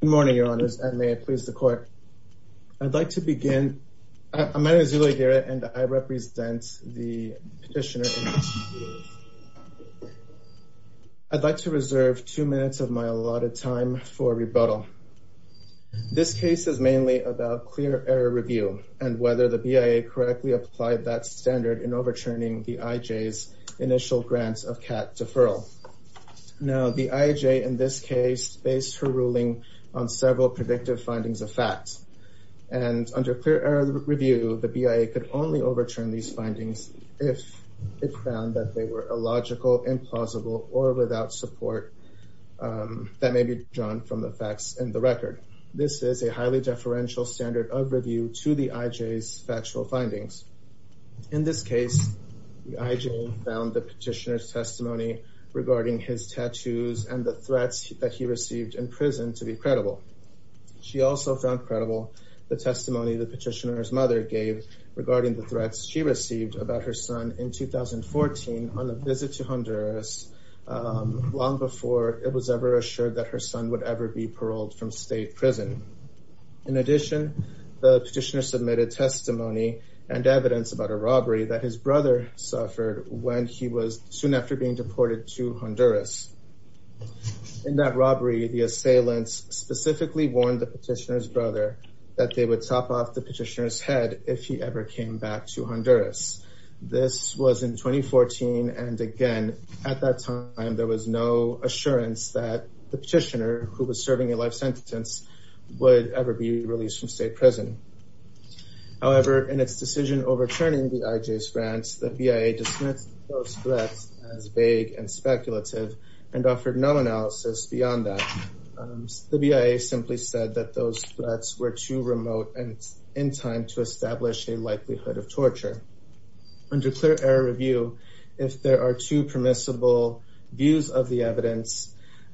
Good morning, your honors, and may it please the court. I'd like to begin, my name is Uli Guerra and I represent the petitioner. I'd like to reserve two minutes of my allotted time for rebuttal. This case is mainly about clear error review and whether the BIA correctly applied that standard in overturning the IJ's initial grants of CAT deferral. Now, the IJ in this case based her ruling on several predictive findings of facts. And under clear error review, the BIA could only overturn these findings if it found that they were illogical, implausible, or without support that may be drawn from the facts in the record. This is a highly deferential standard of review to the IJ's factual findings. In this case, the IJ found the petitioner's testimony regarding his tattoos and the threats that he received in prison to be credible. She also found credible the testimony the petitioner's mother gave regarding the threats she received about her son in 2014 on a visit to Honduras long before it was ever assured that her son would ever be paroled from state prison. In addition, the petitioner submitted testimony and evidence about a robbery that his brother suffered when he was soon after being deported to Honduras. In that robbery, the assailants specifically warned the petitioner's brother that they would top off the petitioner's head if he ever came back to Honduras. This was in 2014, and again, at that time, there was no assurance that the petitioner who was serving a life sentence would ever be released from state prison. However, in its decision overturning the IJ's grants, the BIA dismissed those threats as vague and speculative and offered no analysis beyond that. The BIA simply said that those threats were too remote and in time to establish a likelihood of torture. Under clear error review, if there are two permissible views of the evidence,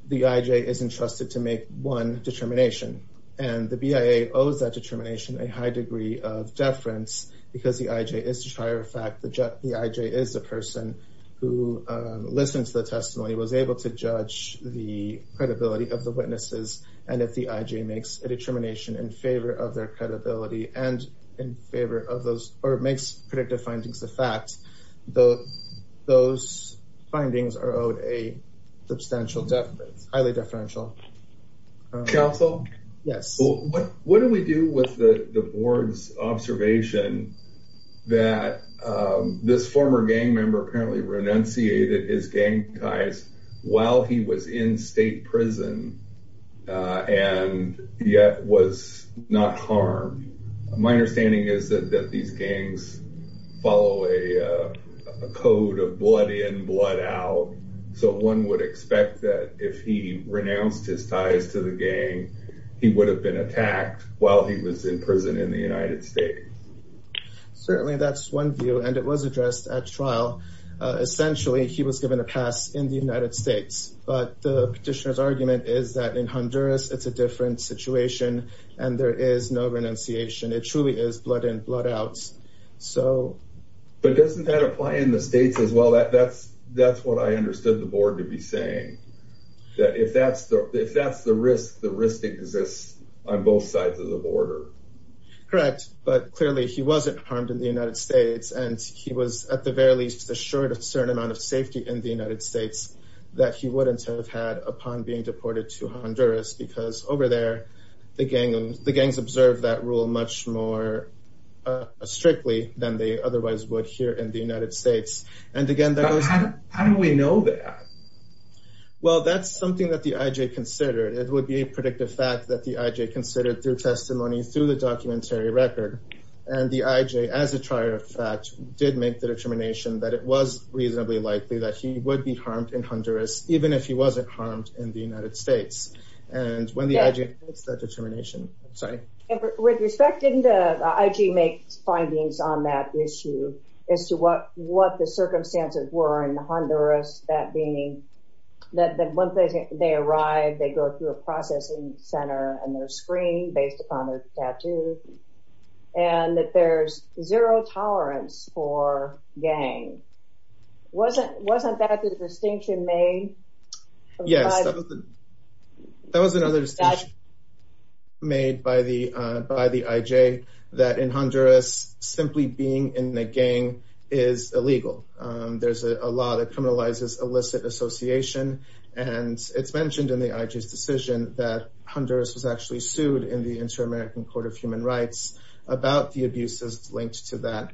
the IJ is entrusted to make one determination, and the BIA owes that determination a high degree of deference because the IJ is to try a fact, the IJ is the person who listens to the testimony, was able to judge the credibility of the witnesses, and if the IJ makes a determination in favor of their credibility and in favor of those, or makes predictive findings of fact, those findings are owed a substantial deference, highly deferential. Council? Yes. What do we do with the board's observation that this former gang member apparently renunciated his gang ties while he was in state prison and yet was not harmed? My understanding is that these gangs follow a code of blood in, blood out, so one would expect that if he renounced his ties to the gang, he would have been attacked while he was in prison in the United States. Certainly, that's one view, and it was addressed at trial. Essentially, he was given a pass in the United States, but the petitioner's argument is that in Honduras, it's a different situation, and there is no renunciation. It truly is blood in, blood out, so. But doesn't that apply in the States as well? That's what I understood the board to be saying, that if that's the risk, the risk exists on both sides of the border. Correct, but clearly he wasn't harmed in the United States, and he was, at the very least, assured of a certain amount of safety in the United States that he wouldn't have had upon being deported to Honduras, because over there, the gangs observed that rule much more strictly than they otherwise would here in the United States. And again, that was- How do we know that? Well, that's something that the IJ considered. It would be a predictive fact that the IJ considered through testimony, through the documentary record. And the IJ, as a trier of fact, did make the determination that it was reasonably likely that he would be harmed in Honduras, even if he wasn't harmed in the United States. And when the IJ makes that determination, sorry. With respect, didn't the IJ make findings on that issue as to what the circumstances were in Honduras, that being that once they arrive, they go through a processing center and they're screened based upon their tattoos, and that there's zero tolerance for gang. Wasn't that the distinction made? Yes, that was another distinction made by the IJ that in Honduras, simply being in a gang is illegal. There's a law that criminalizes illicit association. And it's mentioned in the IJ's decision that Honduras was actually sued in the Inter-American Court of Human Rights about the abuses linked to that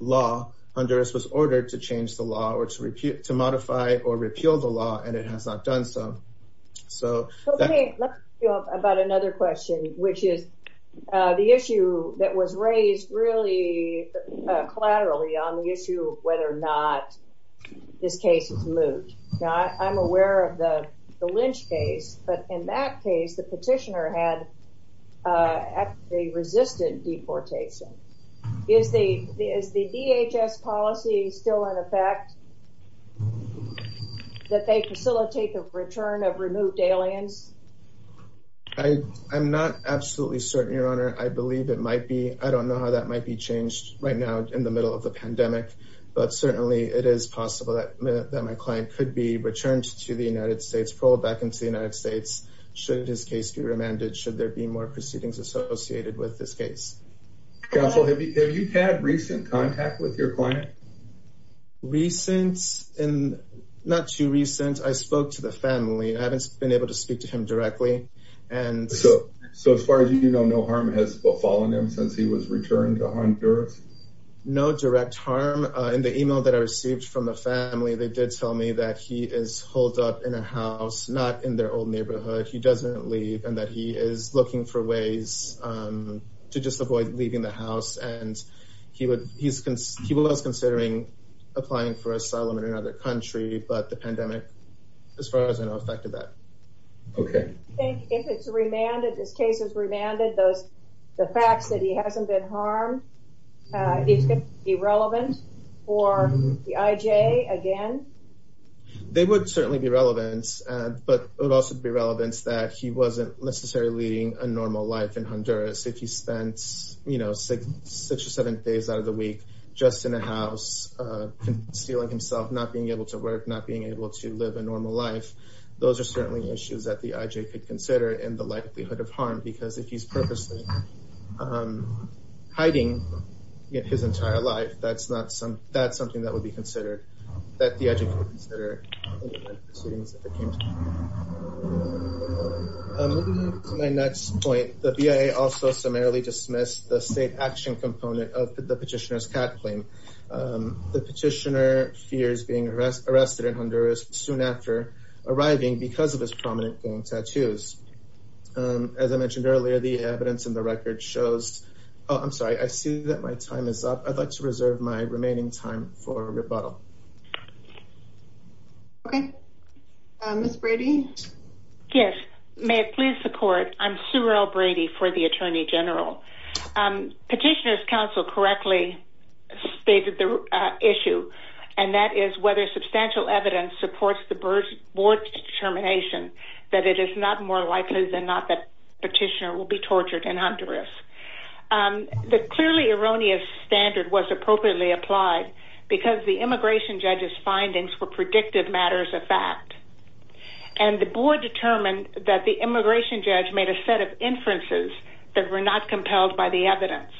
law. Honduras was ordered to change the law or to modify or repeal the law, and it has not done so. So- Okay, let's go about another question, which is the issue that was raised really collaterally on the issue of whether or not this case was moved. I'm aware of the Lynch case, but in that case, the petitioner had actually resisted deportation. Is the DHS policy still in effect that they facilitate the return of removed aliens? I'm not absolutely certain, Your Honor. I believe it might be. I don't know how that might be changed right now in the middle of the pandemic, but certainly it is possible that my client could be returned to the United States, pulled back into the United States should his case be remanded, should there be more proceedings associated with this case. Counsel, have you had recent contact with your client? Recent, not too recent. I spoke to the family. I haven't been able to speak to him directly. And- So as far as you know, no harm has befallen him since he was returned to Honduras? No direct harm. In the email that I received from the family, they did tell me that he is holed up in a house, not in their old neighborhood. He doesn't leave and that he is looking for ways to just avoid leaving the house. And he was considering applying for asylum in another country, but the pandemic, as far as I know, affected that. Okay. I think if it's remanded, this case is remanded, the facts that he hasn't been harmed, is it irrelevant for the IJ again? They would certainly be relevant, but it would also be relevant that he wasn't necessarily leading a normal life in Honduras. If he spent six or seven days out of the week just in a house, concealing himself, not being able to work, not being able to live a normal life, those are certainly issues that the IJ could consider in the likelihood of harm, because if he's purposely hiding his entire life, that's something that would be considered, that the IJ could consider in the proceedings that they came to. Moving on to my next point, the BIA also summarily dismissed the state action component of the petitioner's cat claim. The petitioner fears being arrested in Honduras soon after arriving because of his prominent gang tattoos. As I mentioned earlier, the evidence in the record shows, oh, I'm sorry, I see that my time is up. I'd like to reserve my remaining time for rebuttal. Okay. Ms. Brady? Yes, may it please the court, I'm Sue Earl Brady for the Attorney General. Petitioner's counsel correctly stated the issue, and that is whether substantial evidence supports the board's determination that it is not more likely than not that petitioner will be tortured in Honduras. The clearly erroneous standard was appropriately applied because the immigration judge's findings were predictive matters of fact. And the board determined that the immigration judge made a set of inferences that were not compelled by the evidence.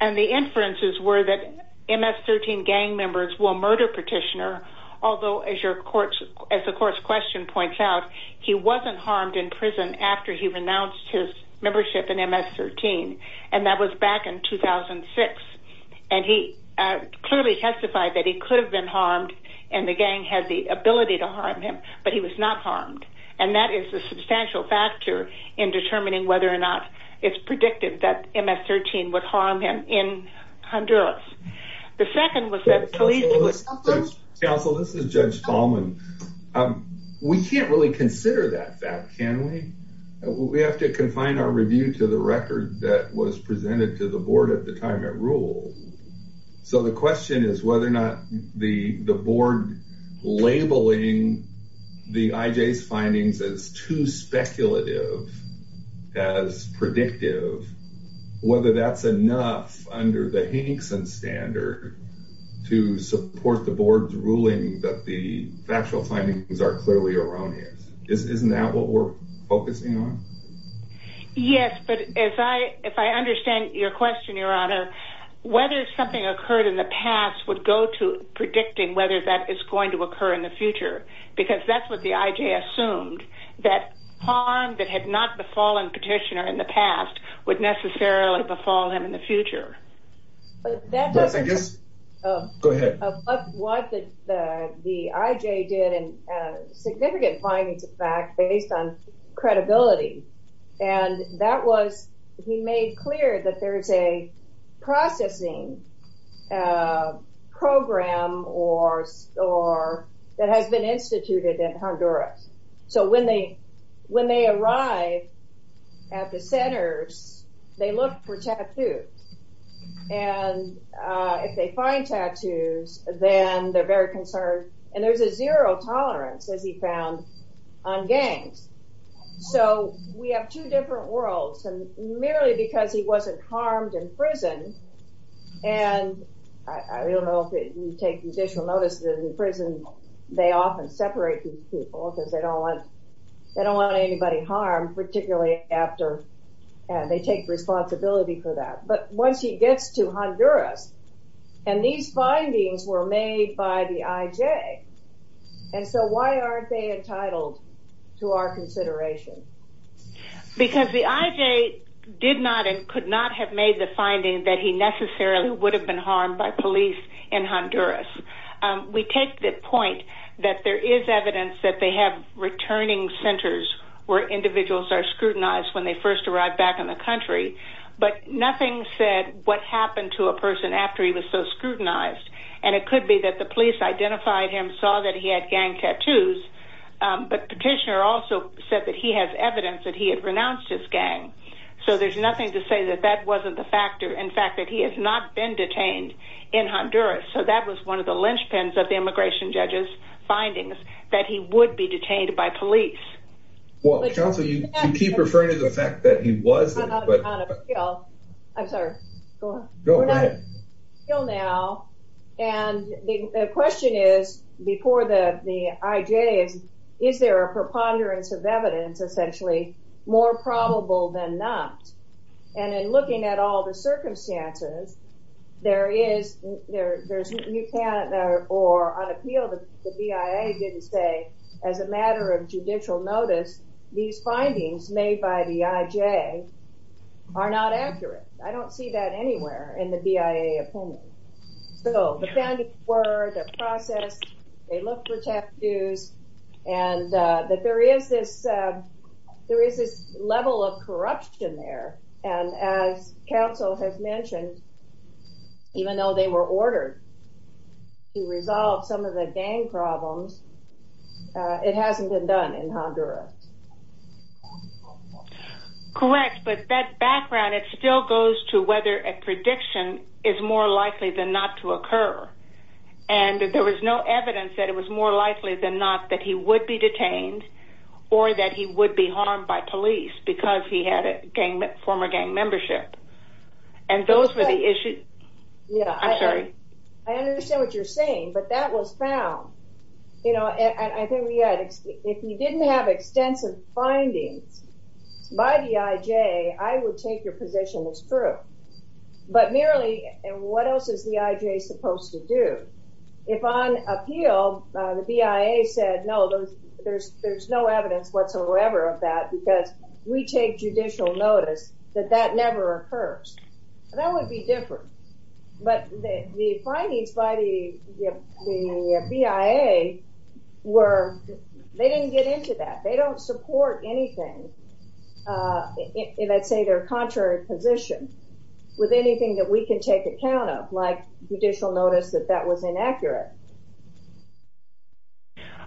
And the inferences were that MS-13 gang members will murder petitioner, although as the court's question points out, he wasn't harmed in prison after he renounced his membership in MS-13, and that was back in 2006. And he clearly testified that he could have been harmed and the gang had the ability to harm him, but he was not harmed. And that is a substantial factor in determining whether or not it's predictive that MS-13 would harm him in Honduras. The second was that police- Council, this is Judge Tallman. We can't really consider that fact, can we? We have to confine our review to the record that was presented to the board at the time it ruled. So the question is whether or not the board labeling the IJ's findings as too speculative, as predictive, whether that's enough under the Hankson standard to support the board's ruling that the factual findings are clearly erroneous. Isn't that what we're focusing on? Yes, but if I understand your question, Your Honor, whether something occurred in the past would go to predicting whether that is going to occur in the future, because that's what the IJ assumed, that harm that had not befallen petitioner in the past would necessarily befall him in the future. That doesn't- Go ahead. Of what the IJ did and significant findings of fact based on credibility. And that was, he made clear that there is a processing program or that has been instituted in Honduras. So when they arrive at the centers, they look for tattoos. And if they find tattoos, then they're very concerned. And there's a zero tolerance as he found on gangs. So we have two different worlds and merely because he wasn't harmed in prison. And I don't know if you take additional notice that in prison, they often separate these people because they don't want anybody harmed, particularly after they take responsibility for that. But once he gets to Honduras and these findings were made by the IJ. And so why aren't they entitled to our consideration? Because the IJ did not and could not have made the finding that he necessarily would have been harmed by police in Honduras. We take the point that there is evidence that they have returning centers where individuals are scrutinized when they first arrived back in the country. But nothing said what happened to a person after he was so scrutinized. And it could be that the police identified him, saw that he had gang tattoos, but petitioner also said that he has evidence that he had renounced his gang. So there's nothing to say that that wasn't the factor. In fact, that he has not been detained in Honduras. So that was one of the linchpins of the immigration judges findings that he would be detained by police. Well, counsel, you keep referring to the fact that he was there, but- I'm not on appeal. I'm sorry, go on. Go ahead. We're not on appeal now. And the question is, before the IJ, is there a preponderance of evidence, essentially more probable than not? And in looking at all the circumstances, there is, you can't, or on appeal, the BIA didn't say, as a matter of judicial notice, these findings made by the IJ are not accurate. I don't see that anywhere in the BIA opinion. So the findings were they're processed, they look for tattoos, and that there is this level of corruption there. And as counsel has mentioned, even though they were ordered to resolve some of the gang problems, it hasn't been done in Honduras. Correct, but that background, it still goes to whether a prediction is more likely than not to occur. And there was no evidence that it was more likely than not that he would be detained, or that he would be harmed by police because he had a former gang membership. And those were the issues, I'm sorry. I understand what you're saying, but that was found. I think if you didn't have extensive findings by the IJ, I would take your position as true. But merely, and what else is the IJ supposed to do? If on appeal, the BIA said, no, there's no evidence whatsoever of that because we take judicial notice that that never occurs. That would be different. But the findings by the BIA were, they didn't get into that. They don't support anything. And I'd say their contrary position with anything that we can take account of, like judicial notice that that was inaccurate.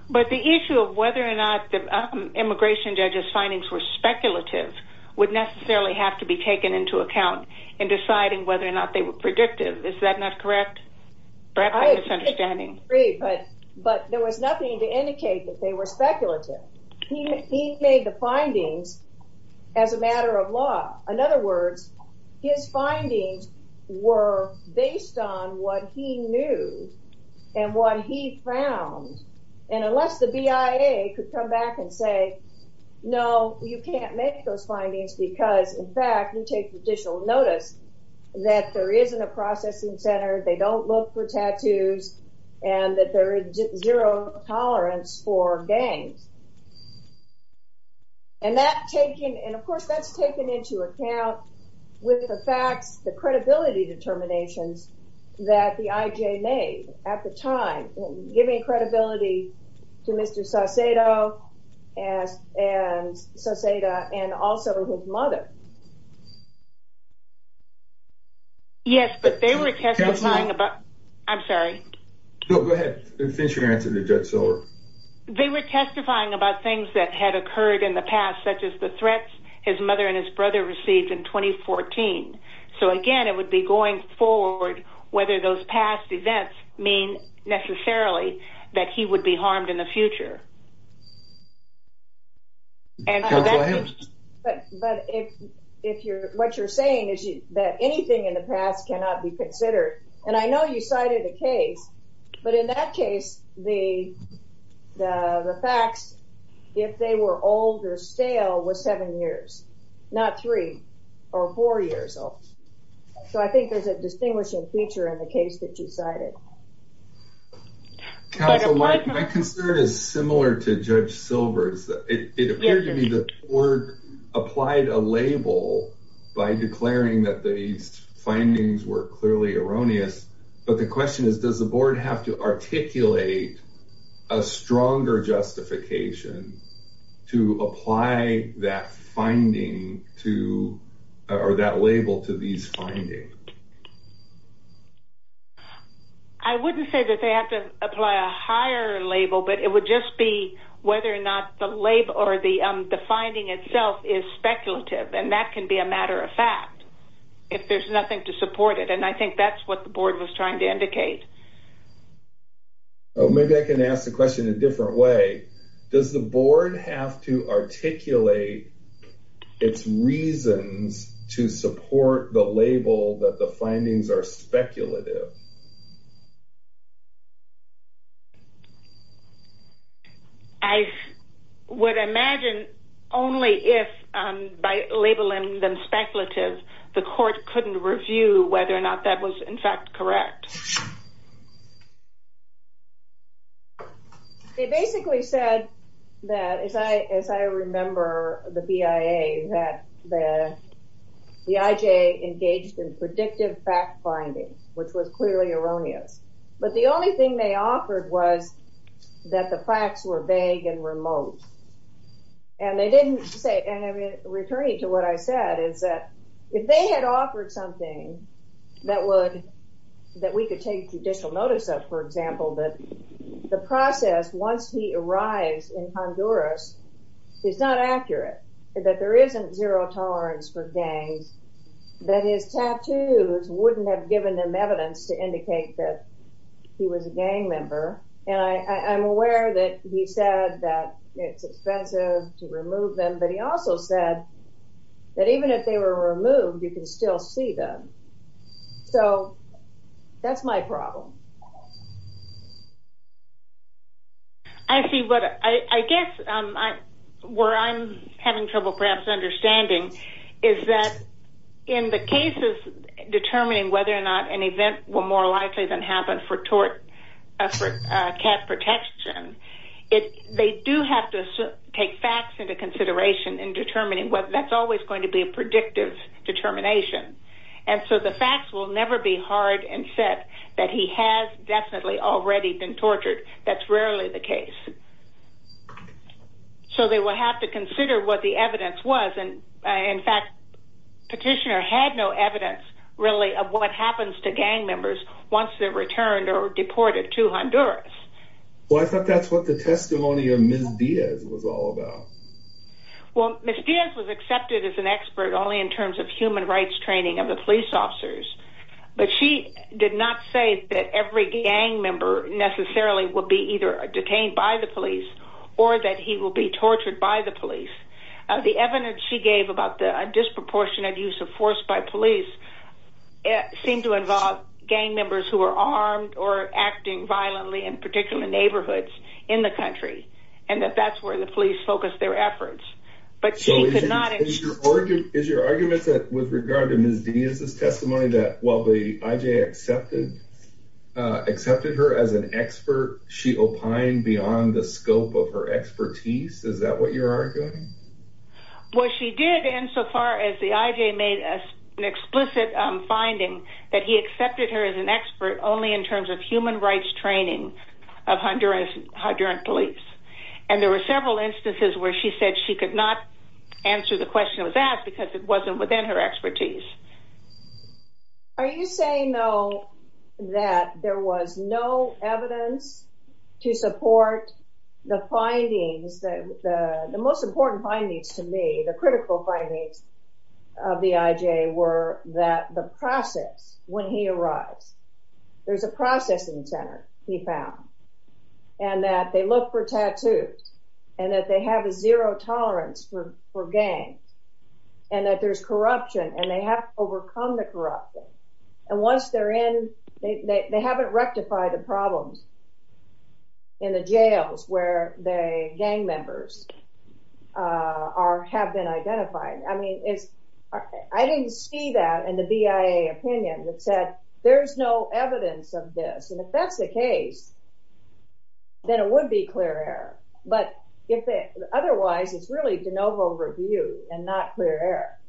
But the issue of whether or not the immigration judge's findings were speculative would necessarily have to be taken into account in deciding whether or not they were predictive. Is that not correct? Perhaps I'm misunderstanding. But there was nothing to indicate that they were speculative. He made the findings as a matter of law. In other words, his findings were based on what he knew and what he found. And unless the BIA could come back and say, no, you can't make those findings because in fact, you take judicial notice that there isn't a processing center, they don't look for tattoos, and that there is zero tolerance for gangs. And that taking, and of course, that's taken into account with the facts, the credibility determinations that the IJ made at the time, giving credibility to Mr. Saucedo and also who did that. His mother. Yes, but they were testifying about, I'm sorry. No, go ahead and finish your answer to Judge Sower. They were testifying about things that had occurred in the past, such as the threats his mother and his brother received in 2014. So again, it would be going forward whether those past events mean necessarily that he would be harmed in the future. Go ahead. But if you're, what you're saying is that anything in the past cannot be considered. And I know you cited a case, but in that case, the facts, if they were old or stale was seven years, not three or four years old. So I think there's a distinguishing feature Counsel, my concern is similar to Judge Sower's concern. Similar to Judge Silver's, it appeared to me that the board applied a label by declaring that these findings were clearly erroneous. But the question is, does the board have to articulate a stronger justification to apply that finding to, or that label to these findings? I wouldn't say that they have to apply a higher label, but it would just be whether or not the label or the finding itself is speculative. And that can be a matter of fact, if there's nothing to support it. And I think that's what the board was trying to indicate. Oh, maybe I can ask the question in a different way. Does the board have to articulate its reasons to support the label that the findings are speculative? I would imagine only if by labeling them speculative, the court couldn't review whether or not that was in fact correct. They basically said that, as I remember the BIA, that the IJ engaged in predictive fact finding, which was clearly erroneous. But the only thing they offered was that the facts were vague and remote. And they didn't say, and I'm returning to what I said, is that if they had offered something that we could take judicial notice of, for example, that the process, once he arrives in Honduras, is not accurate, that there isn't zero tolerance for gangs, that his tattoos wouldn't have given them evidence to indicate that he was a gang member. And I'm aware that he said that it's expensive to remove them, but he also said that even if they were removed, you can still see them. So that's my problem. I see what, I guess where I'm having trouble perhaps understanding is that in the cases determining whether or not an event were more likely than happened for cat protection, they do have to take facts into consideration in determining whether that's always going to be a predictive determination. And so the facts will never be hard and set that he has definitely already been tortured. That's rarely the case. So they will have to consider what the evidence was. In fact, petitioner had no evidence really of what happens to gang members once they're returned or deported to Honduras. Well, I thought that's what the testimony of Ms. Diaz was all about. Well, Ms. Diaz was accepted as an expert only in terms of human rights training of the police officers but she did not say that every gang member necessarily would be either detained by the police or that he will be tortured by the police. The evidence she gave about the disproportionate use of force by police seem to involve gang members who are armed or acting violently in particular neighborhoods in the country. And that that's where the police focus their efforts. But she could not- Is your argument that with regard to Ms. Diaz's testimony that while the IJ accepted her as an expert, she opined beyond the scope of her expertise? Is that what you're arguing? Well, she did insofar as the IJ made an explicit finding that he accepted her as an expert only in terms of human rights training of Honduran police. And there were several instances where she said she could not answer the question that was asked because it wasn't within her expertise. Are you saying though that there was no evidence to support the findings, the most important findings to me, the critical findings of the IJ were that the process when he arrives, there's a processing center he found, and that they look for tattoos, and that they have a zero tolerance for gangs, and that there's corruption and they have to overcome the corruption. And once they're in, they haven't rectified the problems in the jails where the gang members have been identified. I mean, I didn't see that in the BIA opinion that said there's no evidence of this. And if that's the case, then it would be clear error. But otherwise, it's really de novo review and not clear error.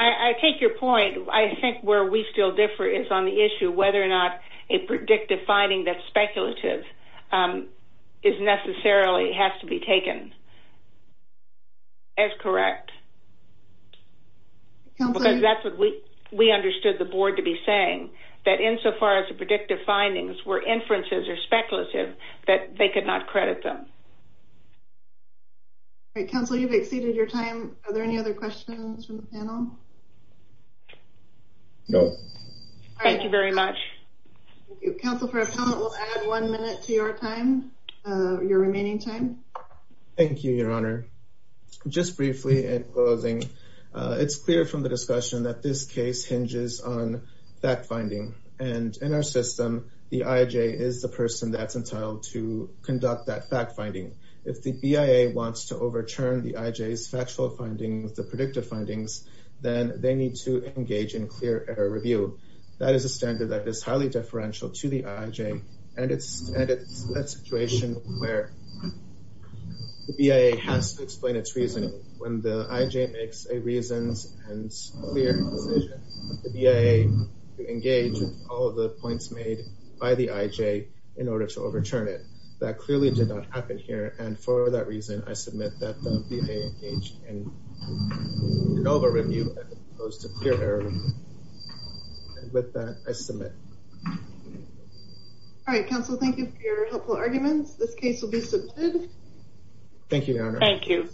I take your point. I think where we still differ is on the issue whether or not a predictive finding that's speculative is necessarily has to be taken as correct. Because that's what we understood the board to be saying, that insofar as the predictive findings were inferences or speculative, that they could not credit them. All right, counsel, you've exceeded your time. Are there any other questions from the panel? No. Thank you very much. Counsel, for a comment, we'll add one minute to your time, your remaining time. Thank you, Your Honor. Just briefly, in closing, it's clear from the discussion that this case hinges on fact-finding. And in our system, the IJ is the person that's entitled to conduct that fact-finding. If the BIA wants to overturn the IJ's factual findings, the predictive findings, then they need to engage in clear error review. That is a standard that is highly deferential to the IJ. And it's a situation where the BIA has to explain its reasoning when the IJ makes a reasoned and clear decision for the BIA to engage with all of the points made by the IJ in order to overturn it. That clearly did not happen here. And for that reason, I submit that the BIA engaged in an over-review as opposed to clear error review. And with that, I submit. All right, counsel, thank you for your helpful arguments. This case will be submitted. Thank you, Your Honor. Thank you.